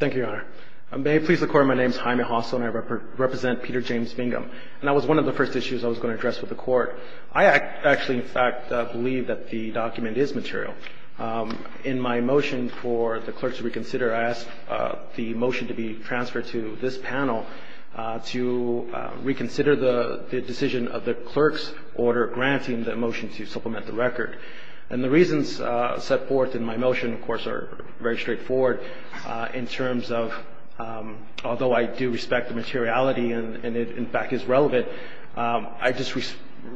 Thank you, Your Honor. May it please the Court, my name is Jaime Hossel and I represent Peter James Bingham. And that was one of the first issues I was going to address with the Court. I actually, in fact, believe that the document is material. In my motion for the clerk to reconsider, I ask the motion to be transferred to this panel to reconsider the decision of the clerk's order granting the motion to supplement the record. And the reasons set forth in my motion, of course, are very straightforward in terms of although I do respect the materiality and it, in fact, is relevant, I just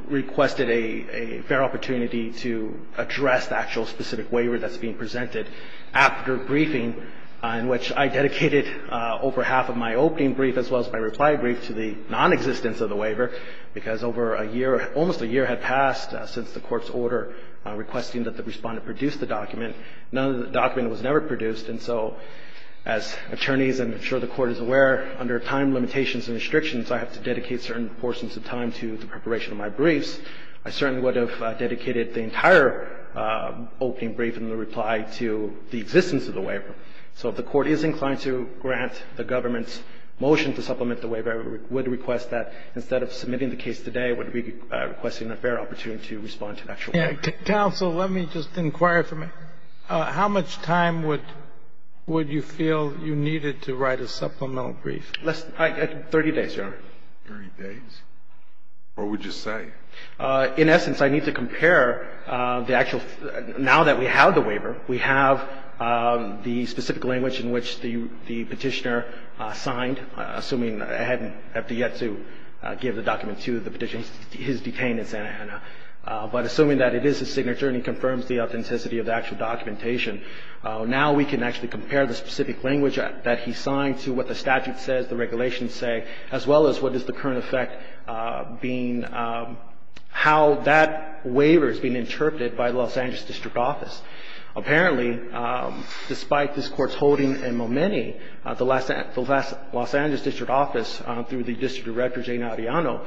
requested a fair opportunity to address the actual specific waiver that's being presented after briefing in which I dedicated over half of my opening brief as well as my reply brief to the nonexistence of the waiver because over a year, almost a year had passed since the Court's order requesting that the Respondent produce the document. None of the document was never produced, and so as attorneys, I'm sure the Court is aware, under time limitations and restrictions, I have to dedicate certain portions of time to the preparation of my briefs. I certainly would have dedicated the entire opening brief and the reply to the existence of the waiver. So if the Court is inclined to grant the government's motion to supplement the waiver, I would request that instead of submitting the case today, I would be requesting a fair opportunity to respond to the actual waiver. Kennedy. Counsel, let me just inquire from you. How much time would you feel you needed to write a supplemental brief? Less than 30 days, Your Honor. 30 days? What would you say? In essence, I need to compare the actual – now that we have the waiver, we have the specific language in which the Petitioner signed, assuming I haven't yet to give the document to the Petitioner. He's detained in Santa Ana. But assuming that it is his signature and he confirms the authenticity of the actual documentation, now we can actually compare the specific language that he signed to what the statute says, the regulations say, as well as what is the current effect being – how that waiver is being interpreted by the Los Angeles district office. Apparently, despite this court's holding in Momeni, the Los Angeles district office, through the district director, Jane Audiano,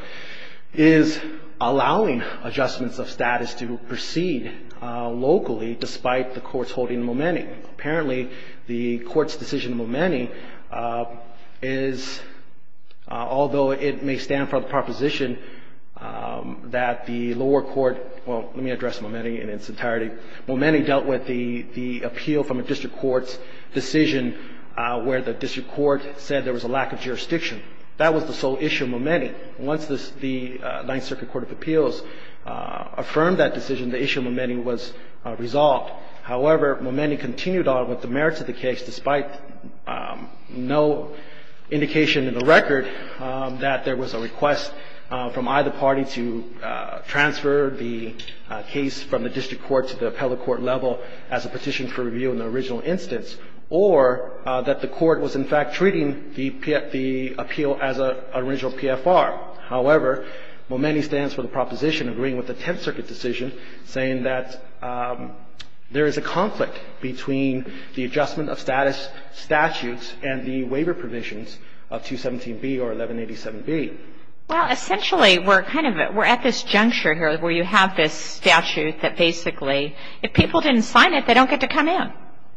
is allowing adjustments of status to proceed locally despite the court's holding in Momeni. Apparently, the court's decision in Momeni is – although it may stand for the proposition that the lower court – well, let me address Momeni in its entirety. Momeni dealt with the appeal from a district court's decision where the district court said there was a lack of jurisdiction. That was the sole issue in Momeni. Once the Ninth Circuit Court of Appeals affirmed that decision, the issue in Momeni was resolved. However, Momeni continued on with the merits of the case despite no indication in the record that there was a request from either party to transfer the case from the district court to the appellate court level as a petition for review in the original instance or that the court was in fact treating the appeal as an original PFR. However, Momeni stands for the proposition agreeing with the Tenth Circuit decision saying that there is a conflict between the adjustment of status statutes and the waiver provisions of 217B or 1187B. Well, essentially, we're kind of – we're at this juncture here where you have this statute that basically – if people didn't sign it, they don't get to come in.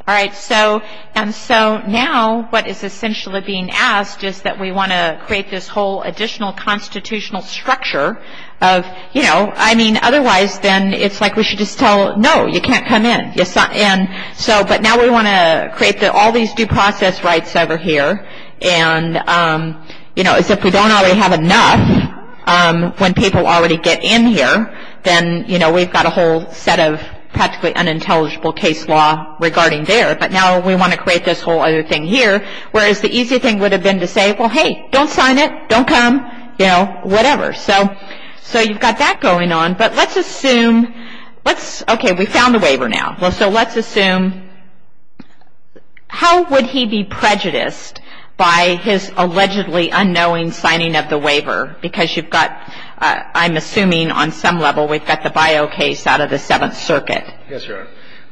All right. So – and so now what is essentially being asked is that we want to create this whole additional constitutional structure of – you know, I mean, otherwise then it's like we should just tell, no, you can't come in. So – but now we want to create all these due process rights over here and, you know, as if we don't already have enough when people already get in here, then, you know, we've got a whole set of practically unintelligible case law regarding there. But now we want to create this whole other thing here, whereas the easy thing would have been to say, well, hey, don't sign it. Don't come. You know, whatever. So you've got that going on. But let's assume – let's – okay. We found the waiver now. So let's assume – how would he be prejudiced by his allegedly unknowing signing of the waiver? Because you've got – I'm assuming on some level we've got the bio case out of the Seventh Circuit. Yes, Your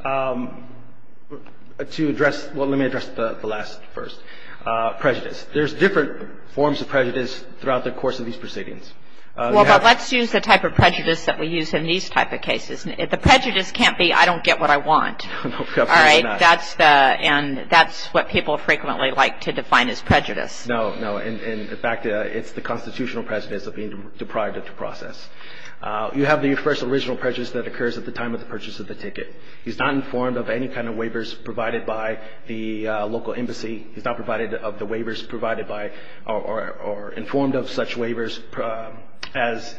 Honor. To address – well, let me address the last first. Prejudice. There's different forms of prejudice throughout the course of these proceedings. Well, but let's use the type of prejudice that we use in these type of cases. The prejudice can't be I don't get what I want. All right. That's the – and that's what people frequently like to define as prejudice. No, no. In fact, it's the constitutional prejudice of being deprived of the process. You have the first original prejudice that occurs at the time of the purchase of the ticket. He's not informed of any kind of waivers provided by the local embassy. He's not provided of the waivers provided by or informed of such waivers as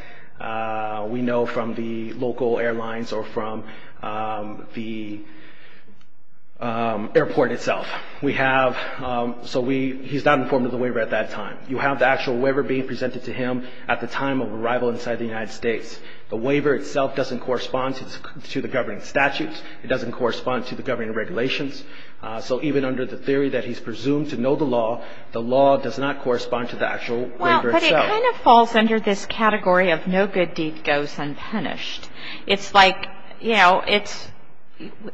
we know from the local airlines or from the airport itself. We have – so we – he's not informed of the waiver at that time. You have the actual waiver being presented to him at the time of arrival inside the United States. The waiver itself doesn't correspond to the governing statutes. It doesn't correspond to the governing regulations. So even under the theory that he's presumed to know the law, the law does not correspond to the actual waiver itself. Well, but it kind of falls under this category of no good deed goes unpunished. It's like, you know, it's –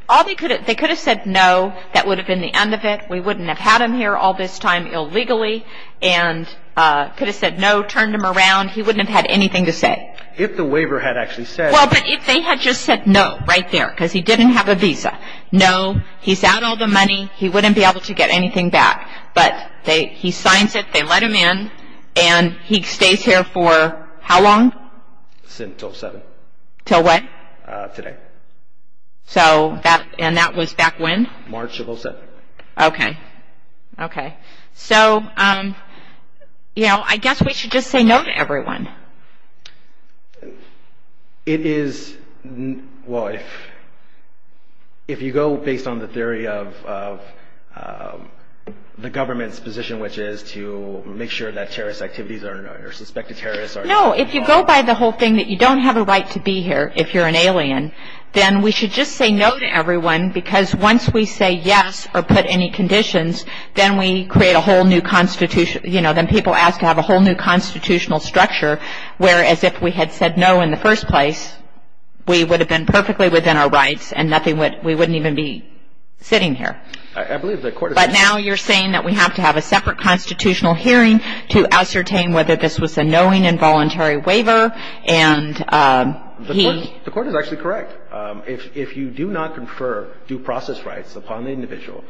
all they could have – they could have said no. That would have been the end of it. We wouldn't have had him here all this time illegally and could have said no, turned him around. He wouldn't have had anything to say. If the waiver had actually said – Well, but if they had just said no right there because he didn't have a visa. No, he's out all the money. He wouldn't be able to get anything back. But they – he signs it, they let him in, and he stays here for how long? Until 7. Until what? Today. So that – and that was back when? March of 07. Okay. Okay. So, you know, I guess we should just say no to everyone. It is – well, if you go based on the theory of the government's position, which is to make sure that terrorist activities are – or suspected terrorists are – No, if you go by the whole thing that you don't have a right to be here if you're an alien, then we should just say no to everyone because once we say yes or put any conditions, then we create a whole new constitution – you know, then people ask to have a whole new constitutional structure, whereas if we had said no in the first place, we would have been perfectly within our rights and nothing would – we wouldn't even be sitting here. I believe the court is – But now you're saying that we have to have a separate constitutional hearing to ascertain whether this was a knowing involuntary waiver and he – The court is actually correct. If you do not confer due process rights upon the individual,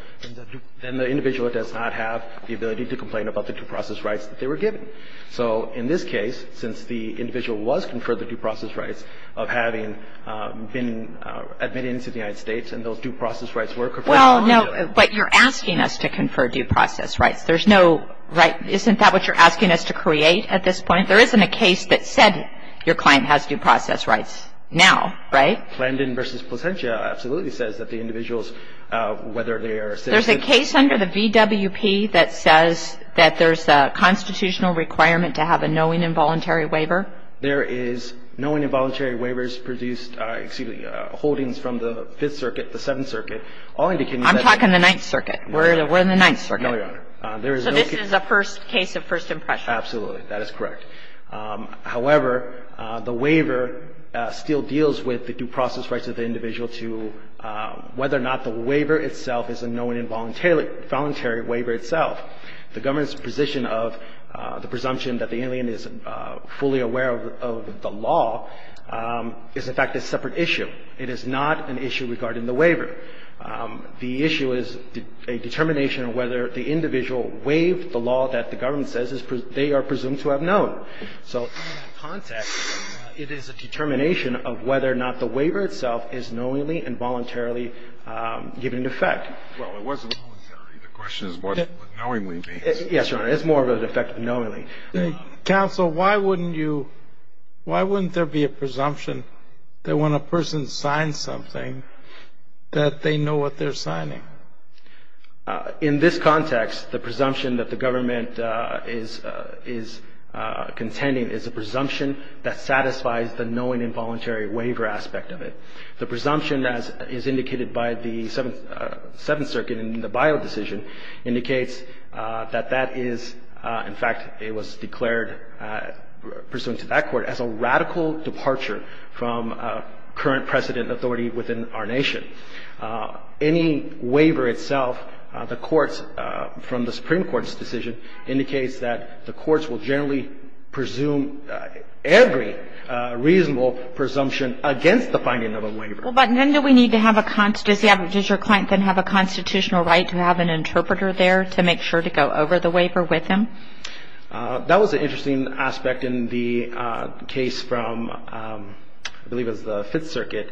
then the individual does not have the ability to complain about the due process rights that they were given. So in this case, since the individual was conferred the due process rights of having been admitted into the United States and those due process rights were conferred upon the individual. Well, no, but you're asking us to confer due process rights. There's no right – isn't that what you're asking us to create at this point? There isn't a case that said your client has due process rights now, right? Landon v. Placentia absolutely says that the individuals, whether they are – There's a case under the VWP that says that there's a constitutional requirement to have a knowing involuntary waiver? There is knowing involuntary waivers produced – excuse me – holdings from the Fifth Circuit, the Seventh Circuit, all indicating that – I'm talking the Ninth Circuit. No, Your Honor. We're in the Ninth Circuit. No, Your Honor. There is no – So this is a first case of first impression. Absolutely. That is correct. However, the waiver still deals with the due process rights of the individual to whether or not the waiver itself is a knowing involuntary waiver itself. The government's position of the presumption that the alien is fully aware of the law is in fact a separate issue. It is not an issue regarding the waiver. The issue is a determination of whether the individual waived the law that the government says they are presumed to have known. So in that context, it is a determination of whether or not the waiver itself is knowingly and voluntarily given effect. Well, it wasn't voluntarily. The question is what knowingly means. Yes, Your Honor. It's more of an effect of knowingly. Counsel, why wouldn't you – why wouldn't there be a presumption that when a person signs something that they know what they're signing? In this context, the presumption that the government is contending is a presumption that satisfies the knowing involuntary waiver aspect of it. The presumption as is indicated by the Seventh Circuit in the Bayou decision indicates that that is in fact it was declared pursuant to that court as a radical departure from current precedent authority within our nation. Any waiver itself, the courts from the Supreme Court's decision indicates that the courts will generally presume every reasonable presumption against the finding of a waiver. Well, but then do we need to have a – does your client then have a constitutional right to have an interpreter there to make sure to go over the waiver with him? That was an interesting aspect in the case from I believe it was the Fifth Circuit.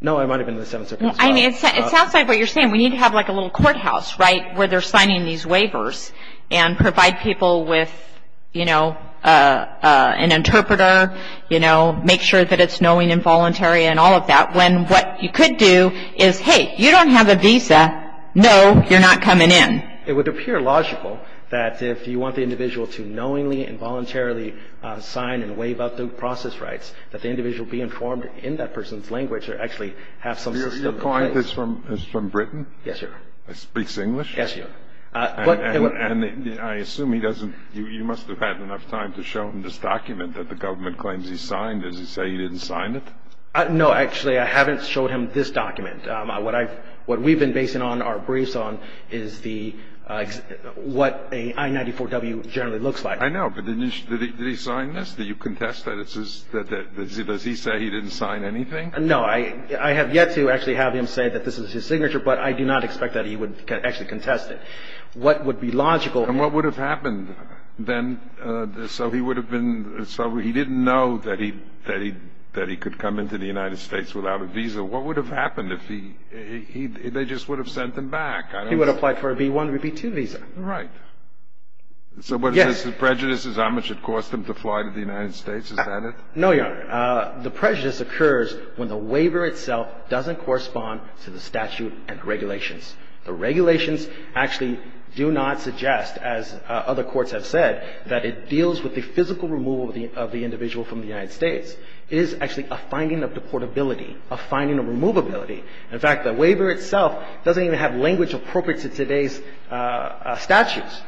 No, it might have been the Seventh Circuit as well. I mean, it's outside what you're saying. We need to have like a little courthouse, right, where they're signing these waivers and provide people with, you know, an interpreter, you know, make sure that it's knowing involuntary and all of that when what you could do is, hey, you don't have a visa. No, you're not coming in. It would appear logical that if you want the individual to knowingly and voluntarily sign and waive out the process rights, that the individual be informed in that person's language or actually have some system in place. So your client is from Britain? Yes, sir. Speaks English? Yes, sir. And I assume he doesn't – you must have had enough time to show him this document that the government claims he signed. Does he say he didn't sign it? No, actually, I haven't showed him this document. What we've been basing our briefs on is the – what an I-94W generally looks like. I know. But did he sign this? Did you contest that this is – does he say he didn't sign anything? No, I have yet to actually have him say that this is his signature, but I do not expect that he would actually contest it. What would be logical – And what would have happened then? So he would have been – so he didn't know that he could come into the United States without a visa. What would have happened if he – they just would have sent him back. He would have applied for a B-1 or a B-2 visa. Right. So what is this? The prejudice is how much it costs them to fly to the United States. Is that it? No, Your Honor. The prejudice occurs when the waiver itself doesn't correspond to the statute and regulations. The regulations actually do not suggest, as other courts have said, that it deals with the physical removal of the individual from the United States. It is actually a finding of deportability, a finding of removability. In fact, the waiver itself doesn't even have language appropriate to today's statutes.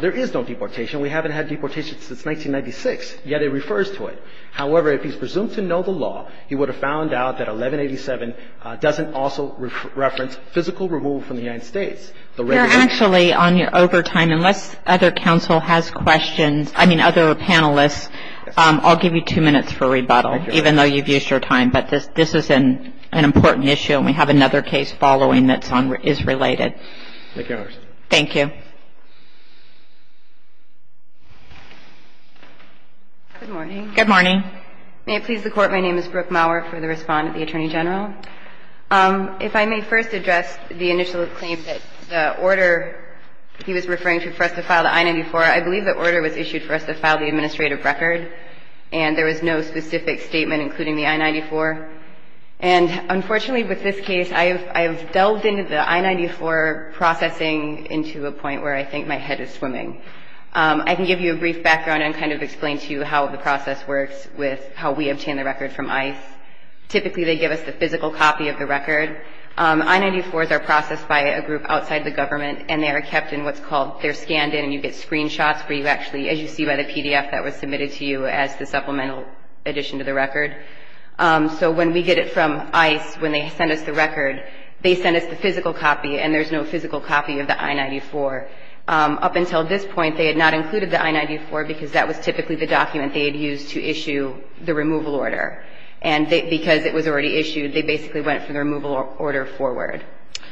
There is no deportation. We haven't had deportation since 1996, yet it refers to it. However, if he's presumed to know the law, he would have found out that 1187 doesn't also reference physical removal from the United States. You're actually on your overtime. Unless other counsel has questions – I mean other panelists, I'll give you two minutes for rebuttal, even though you've used your time. But this is an important issue, and we have another case following that is related. Thank you, Your Honor. Thank you. Good morning. Good morning. May it please the Court. My name is Brooke Maurer for the respondent, the Attorney General. If I may first address the initial claim that the order he was referring to for us to file the I-94, I believe the order was issued for us to file the administrative record, and there was no specific statement including the I-94. And unfortunately with this case, I have delved into the I-94 processing into a point where I think my head is swimming. I can give you a brief background and kind of explain to you how the process works with how we obtain the record from ICE. Typically they give us the physical copy of the record. I-94s are processed by a group outside the government, and they are kept in what's called – they're scanned in and you get screenshots where you actually – as you see by the PDF that was submitted to you as the supplemental addition to the record. So when we get it from ICE, when they send us the record, they send us the physical copy and there's no physical copy of the I-94. Up until this point, they had not included the I-94 because that was typically the document they had used to issue the removal order. And because it was already issued, they basically went from the removal order forward.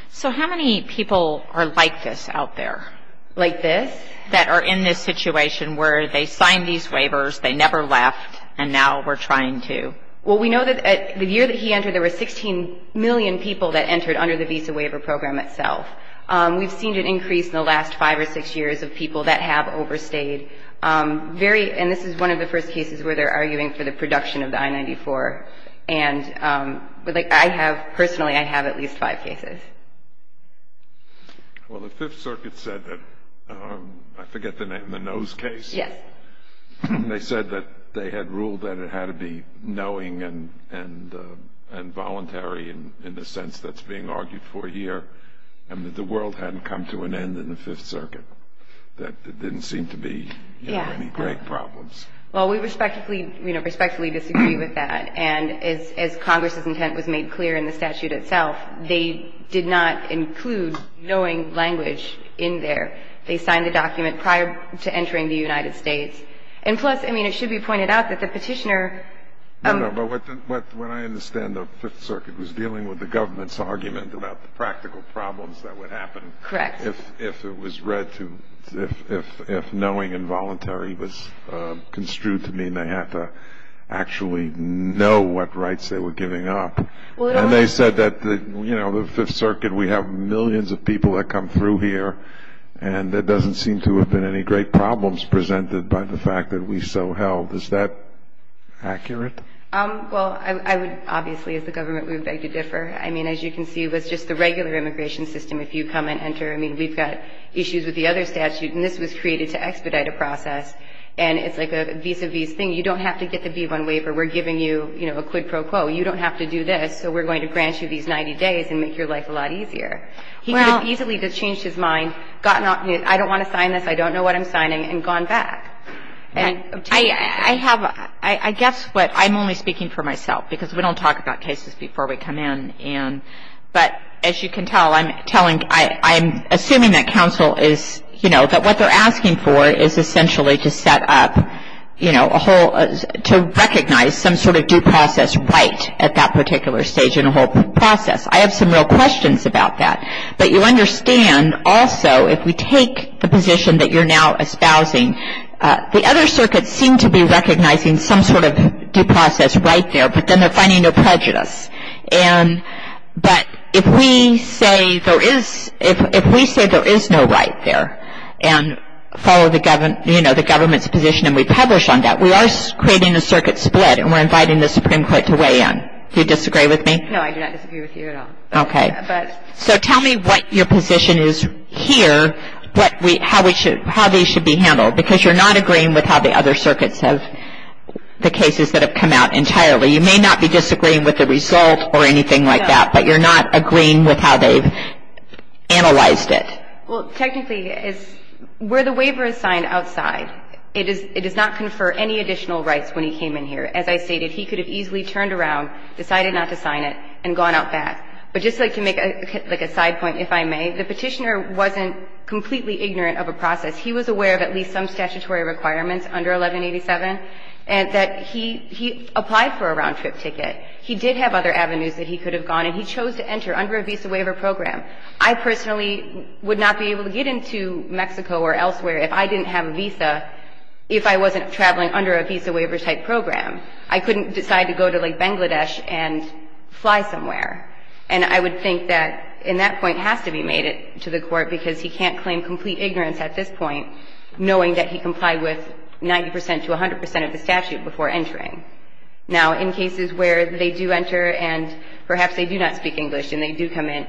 So how many people are like this out there? Like this? That are in this situation where they signed these waivers, they never left, and now we're trying to? Well, we know that the year that he entered, there were 16 million people that entered under the Visa Waiver Program itself. We've seen an increase in the last five or six years of people that have overstayed. Very – and this is one of the first cases where they're arguing for the production of the I-94. And I have – personally, I have at least five cases. Well, the Fifth Circuit said that – I forget the name – the Nose case? Yes. And they said that they had ruled that it had to be knowing and voluntary in the sense that's being argued for here, and that the world hadn't come to an end in the Fifth Circuit, that there didn't seem to be any great problems. Well, we respectfully disagree with that. And as Congress's intent was made clear in the statute itself, they did not include knowing language in there. They signed the document prior to entering the United States. And plus, I mean, it should be pointed out that the petitioner – No, no, but what I understand the Fifth Circuit was dealing with the government's argument about the practical problems that would happen if it was read to – construed to mean they had to actually know what rights they were giving up. And they said that, you know, the Fifth Circuit, we have millions of people that come through here, and there doesn't seem to have been any great problems presented by the fact that we so held. Is that accurate? Well, I would – obviously, as the government, we would beg to differ. I mean, as you can see, it was just the regular immigration system. If you come and enter – I mean, we've got issues with the other statute, and this was created to expedite a process. And it's like a vis-a-vis thing. You don't have to get the B-1 waiver. We're giving you, you know, a quid pro quo. You don't have to do this, so we're going to grant you these 90 days and make your life a lot easier. Well – He could have easily just changed his mind, gotten – I don't want to sign this. I don't know what I'm signing, and gone back. And – I have – I guess what – I'm only speaking for myself, because we don't talk about cases before we come in. But as you can tell, I'm telling – I'm assuming that counsel is – you know, that what they're asking for is essentially to set up, you know, a whole – to recognize some sort of due process right at that particular stage in a whole process. I have some real questions about that. But you understand, also, if we take the position that you're now espousing, the other circuits seem to be recognizing some sort of due process right there, but then they're finding no prejudice. And – but if we say there is – if we say there is no right there, and follow the government – you know, the government's position, and we publish on that, we are creating a circuit split, and we're inviting the Supreme Court to weigh in. Do you disagree with me? No, I do not disagree with you at all. Okay. But – So tell me what your position is here, what we – how we should – how these should be handled, because you're not agreeing with how the other circuits have – the cases that have come out entirely. You may not be disagreeing with the result or anything like that, but you're not agreeing with how they've analyzed it. Well, technically, where the waiver is signed outside, it does not confer any additional rights when he came in here. As I stated, he could have easily turned around, decided not to sign it, and gone out back. But just to make, like, a side point, if I may, the petitioner wasn't completely ignorant of a process. He was aware of at least some statutory requirements under 1187, and that he – he applied for a round-trip ticket. He did have other avenues that he could have gone, and he chose to enter under a visa waiver program. I personally would not be able to get into Mexico or elsewhere if I didn't have a visa if I wasn't traveling under a visa waiver-type program. I couldn't decide to go to, like, Bangladesh and fly somewhere. And I would think that in that point has to be made to the Court, because he can't comply with 90 percent to 100 percent of the statute before entering. Now, in cases where they do enter and perhaps they do not speak English and they do come in,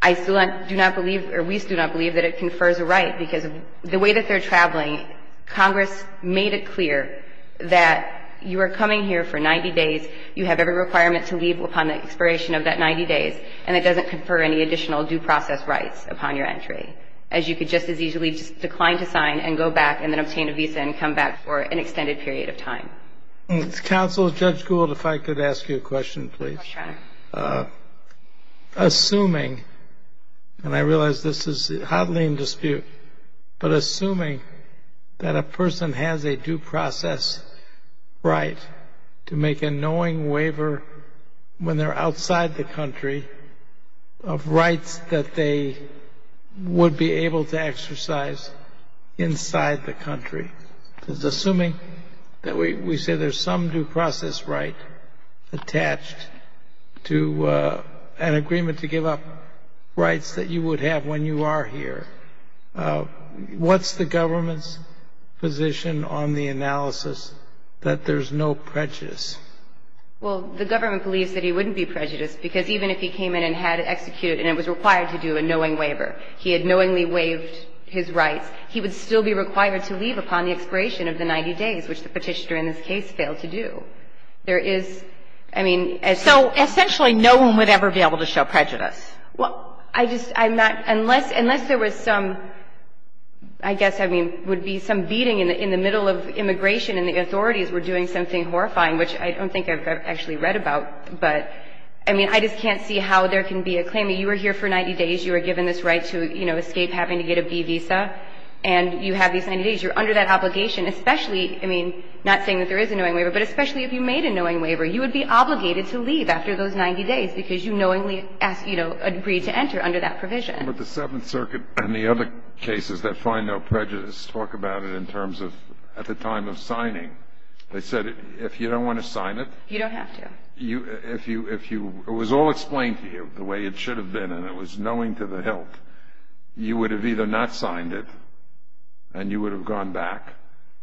I still do not believe, or we still do not believe, that it confers a right, because the way that they're traveling, Congress made it clear that you are coming here for 90 days, you have every requirement to leave upon the expiration of that 90 days, and it doesn't confer any additional due process rights upon your entry, as you could just as easily decline to sign and go back and then obtain a visa and come back for an extended period of time. Counsel, Judge Gould, if I could ask you a question, please. Sure. Assuming, and I realize this is hotly in dispute, but assuming that a person has a due process right to make a knowing waiver when they're outside the country of rights that they would be able to exercise inside the country, because assuming that we say there's some due process right attached to an agreement to give up rights that you would have when you are here, what's the government's position on the analysis that there's no prejudice? Well, the government believes that he wouldn't be prejudiced, because even if he came in and had it executed and it was required to do a knowing waiver, he had knowingly waived his rights, he would still be required to leave upon the expiration of the 90 days, which the Petitioner in this case failed to do. There is, I mean, a sort of... So essentially no one would ever be able to show prejudice. Well, I just, I'm not, unless there was some, I guess, I mean, would be some beating in the middle of immigration and the authorities were doing something horrifying, which I don't think I've actually read about. But, I mean, I just can't see how there can be a claim that you were here for 90 days, you were given this right to, you know, escape having to get a B visa, and you have these 90 days. You're under that obligation, especially, I mean, not saying that there is a knowing waiver, but especially if you made a knowing waiver. You would be obligated to leave after those 90 days, because you knowingly asked, you know, agreed to enter under that provision. But the Seventh Circuit and the other cases that find no prejudice talk about it in terms of at the time of signing. They said if you don't want to sign it... You don't have to. If you, it was all explained to you the way it should have been, and it was knowing to the hilt. You would have either not signed it, and you would have gone back,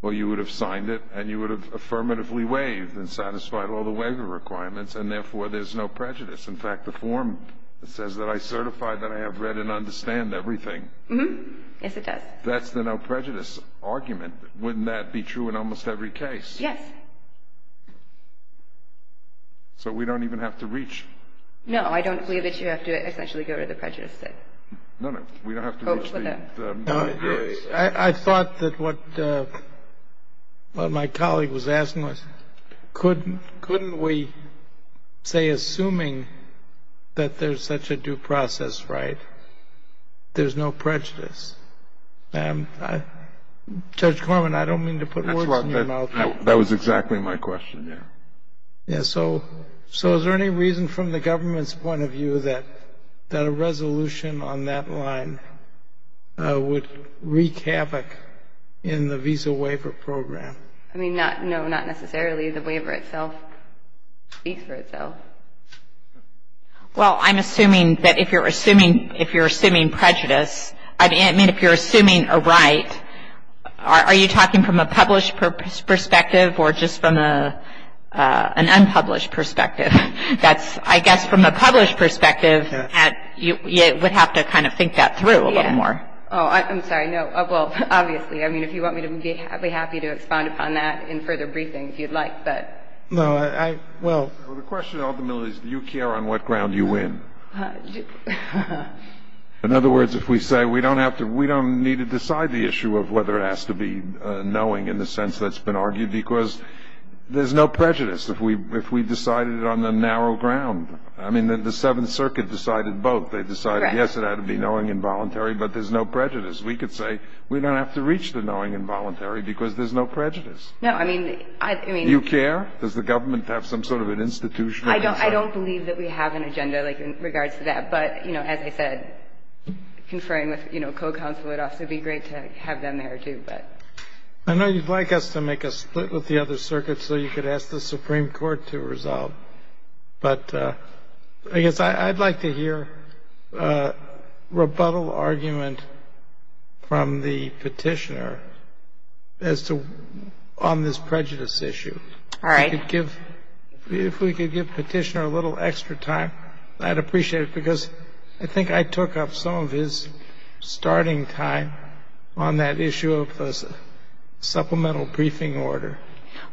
or you would have signed it and you would have affirmatively waived and satisfied all the waiver requirements and therefore there's no prejudice. In fact, the form says that I certify that I have read and understand everything. Mm-hmm. Yes, it does. That's the no prejudice argument. And wouldn't that be true in almost every case? Yes. So we don't even have to reach... No, I don't believe that you have to essentially go to the prejudice step. No, no. We don't have to reach the... I thought that what my colleague was asking was, couldn't we say assuming that there's such a due process right, there's no prejudice? Judge Corman, I don't mean to put words in your mouth. That was exactly my question, yes. Yes. So is there any reason from the government's point of view that a resolution on that line would wreak havoc in the Visa Waiver Program? I mean, no, not necessarily. The waiver itself speaks for itself. I mean, if you're assuming a right, are you talking from a published perspective or just from an unpublished perspective? That's, I guess, from a published perspective, you would have to kind of think that through a little more. Oh, I'm sorry. No. Well, obviously. I mean, if you want me to be happy to expand upon that in further briefing, if you'd like, but... No, I, well... Well, the question, ultimately, is do you care on what ground you win? In other words, if we say we don't have to, we don't need to decide the issue of whether it has to be knowing in the sense that's been argued, because there's no prejudice if we decide it on the narrow ground. I mean, the Seventh Circuit decided both. They decided, yes, it had to be knowing and voluntary, but there's no prejudice. We could say we don't have to reach the knowing and voluntary because there's no prejudice. No, I mean... You care? Does the government have some sort of an institutional answer? I don't believe that we have an agenda, like, in regards to that. But, you know, as I said, conferring with, you know, co-counsel would also be great to have them there, too, but... I know you'd like us to make a split with the other circuits so you could ask the Supreme Court to resolve, but I guess I'd like to hear a rebuttal argument from the petitioner as to on this prejudice issue. All right. If we could give petitioner a little extra time, I'd appreciate it, because I think I took up some of his starting time on that issue of supplemental briefing order.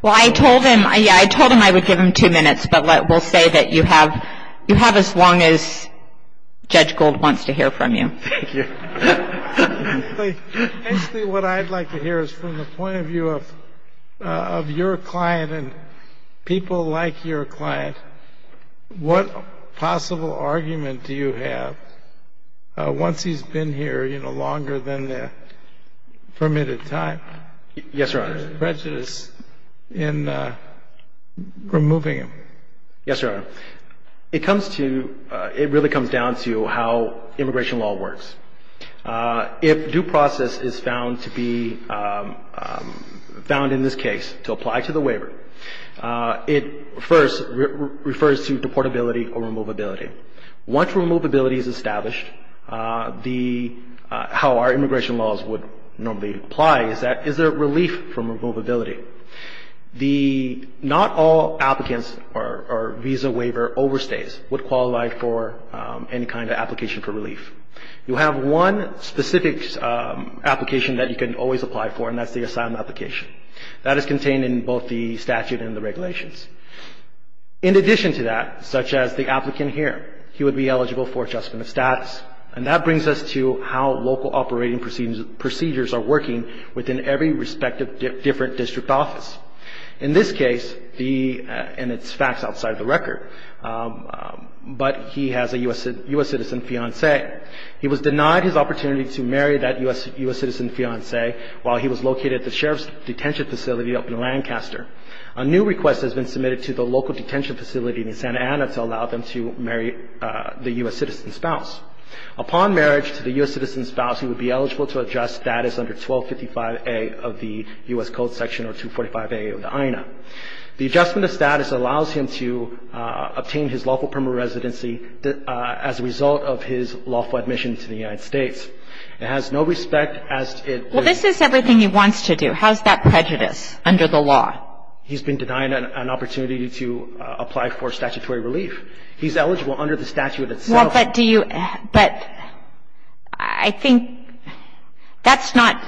Well, I told him I would give him two minutes, but we'll say that you have as long as Judge Gold wants to hear from you. Thank you. Actually, what I'd like to hear is from the point of view of your client and people like your client, what possible argument do you have, once he's been here, you know, longer than the permitted time? Yes, Your Honor. There's prejudice in removing him. Yes, Your Honor. It really comes down to how immigration law works. If due process is found to be found in this case to apply to the waiver, it first refers to deportability or removability. Once removability is established, how our immigration laws would normally apply is that, is there relief from removability? Not all applicants or visa waiver overstays would qualify for any kind of application for relief. You have one specific application that you can always apply for, and that's the asylum application. That is contained in both the statute and the regulations. In addition to that, such as the applicant here, he would be eligible for adjustment of status, and that brings us to how local operating procedures are working within every respective different district office. In this case, and it's facts outside the record, but he has a U.S. citizen fiancé. He was denied his opportunity to marry that U.S. citizen fiancé while he was located at the sheriff's detention facility up in Lancaster. A new request has been submitted to the local detention facility in Santa Ana to allow them to marry the U.S. citizen spouse. Upon marriage to the U.S. citizen spouse, he would be eligible to adjust status under 1255A of the U.S. Code Section or 245A of the INA. The adjustment of status allows him to obtain his lawful permanent residency as a result of his lawful admission to the United States. It has no respect as it was. Well, this is everything he wants to do. How is that prejudice under the law? He's been denied an opportunity to apply for statutory relief. He's eligible under the statute itself. Well, but do you, but I think that's not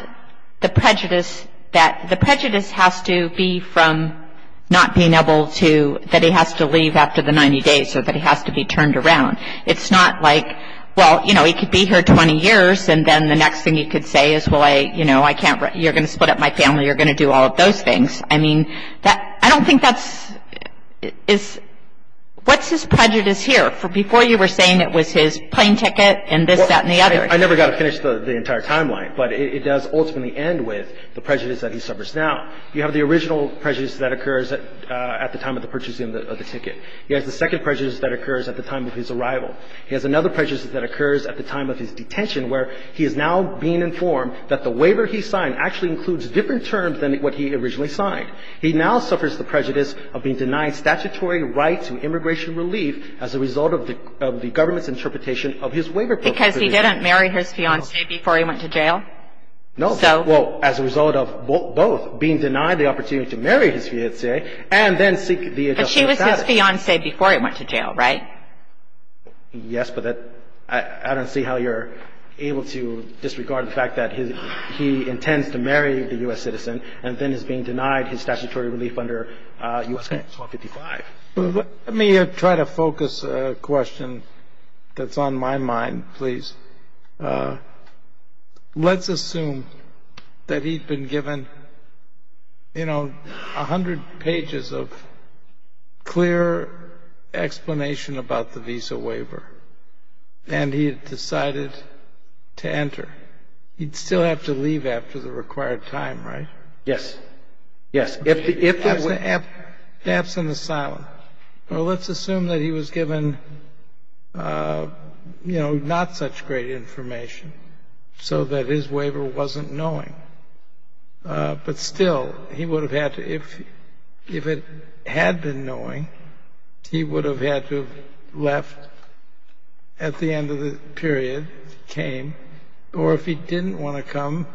the prejudice that, the prejudice has to be from not being able to, that he has to leave after the 90 days or that he has to be turned around. It's not like, well, you know, he could be here 20 years, and then the next thing he could say is, well, I, you know, I can't, you're going to split up my family. You're going to do all of those things. I mean, that, I don't think that's, is, what's his prejudice here? Before you were saying it was his plane ticket and this, that, and the other. I never got to finish the entire timeline, but it does ultimately end with the prejudice that he suffers now. You have the original prejudice that occurs at the time of the purchasing of the ticket. He has the second prejudice that occurs at the time of his arrival. He has another prejudice that occurs at the time of his detention where he is now being denied. He now suffers the prejudice of being denied statutory rights and immigration relief as a result of the, of the government's interpretation of his waiver. Because he didn't marry his fiancée before he went to jail? No. So. Well, as a result of both being denied the opportunity to marry his fiancée and then seek the adjustment status. But she was his fiancée before he went to jail, right? Yes, but that, I don't see how you're able to disregard the fact that his, he intends to marry the U.S. citizen and then is being denied his statutory relief under U.S. Act 155. Let me try to focus a question that's on my mind, please. Let's assume that he'd been given, you know, a hundred pages of clear explanation about the visa waiver, and he had decided to enter. He'd still have to leave after the required time, right? Yes. Yes. If the waiver. Perhaps in the silence. Well, let's assume that he was given, you know, not such great information so that his waiver wasn't knowing. But still, he would have had to, if, if it had been knowing, he would have had to have left at the end of the period, if he came. Or if he didn't want to come,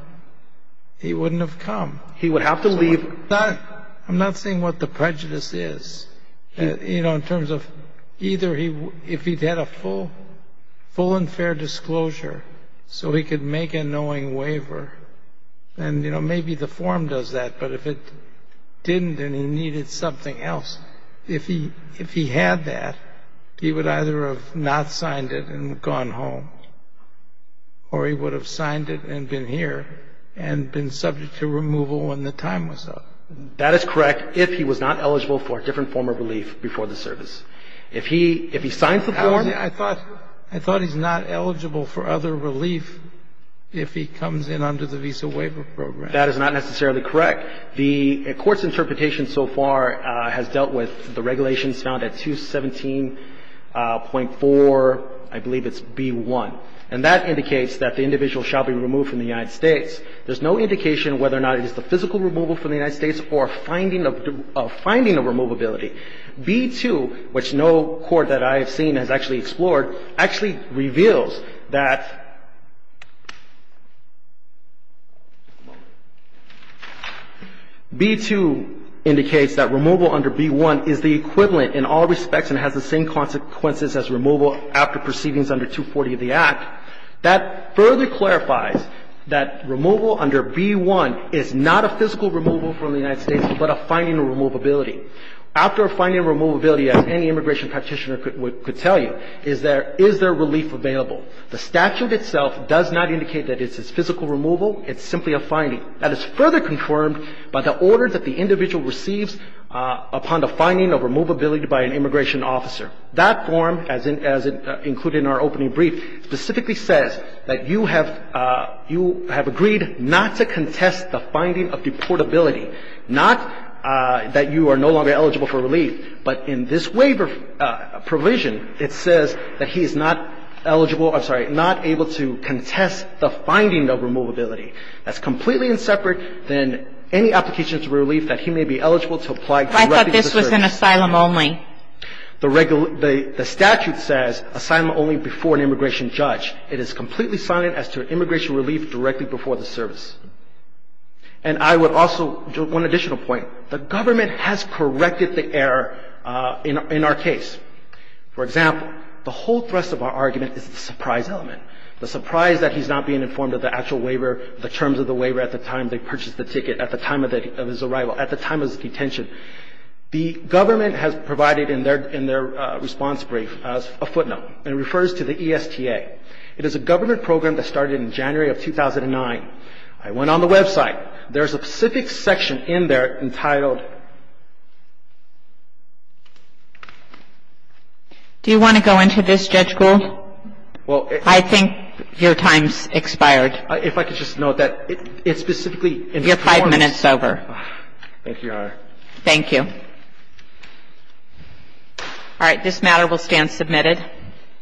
he wouldn't have come. He would have to leave. I'm not saying what the prejudice is. You know, in terms of either he, if he'd had a full, full and fair disclosure so he could make a knowing waiver, then, you know, maybe the form does that. But if it didn't and he needed something else, if he, if he had that, he would either have not signed it and gone home, or he would have signed it and been here and been subject to removal when the time was up. That is correct, if he was not eligible for a different form of relief before the service. If he, if he signs the form. Sotomayor, I thought, I thought he's not eligible for other relief if he comes in under the Visa Waiver Program. That is not necessarily correct. The Court's interpretation so far has dealt with the regulations found at 217.4, I believe it's B-1. And that indicates that the individual shall be removed from the United States. There's no indication whether or not it is the physical removal from the United States or a finding of, a finding of removability. B-2, which no court that I have seen has actually explored, actually reveals that B-2 indicates that removal under B-1 is the equivalent in all respects and has the same consequences as removal after proceedings under 240 of the Act. That further clarifies that removal under B-1 is not a physical removal from the United States, but a finding of removability. After a finding of removability, as any immigration practitioner could tell you, is there, is there relief available? The statute itself does not indicate that it's a physical removal. It's simply a finding. That is further confirmed by the order that the individual receives upon the finding of removability by an immigration officer. That form, as included in our opening brief, specifically says that you have, you have agreed not to contest the finding of deportability, not that you are no longer eligible for relief, but in this waiver provision, it says that he is not eligible, I'm sorry, not able to contest the finding of removability. That's completely inseparate than any application for relief that he may be eligible to apply directly to the service. I thought this was in asylum only. The statute says asylum only before an immigration judge. It is completely silent as to immigration relief directly before the service. And I would also, one additional point. The government has corrected the error in our case. For example, the whole thrust of our argument is the surprise element, the surprise that he's not being informed of the actual waiver, the terms of the waiver at the time they purchased the ticket, at the time of his arrival, at the time of his detention. The government has provided in their response brief a footnote. It refers to the ESTA. It is a government program that started in January of 2009. I went on the website. There's a specific section in there entitled ---- Do you want to go into this, Judge Gould? Well, if ---- I think your time's expired. If I could just note that it specifically informs ---- Thank you, Your Honor. Thank you. All right. This matter will stand submitted.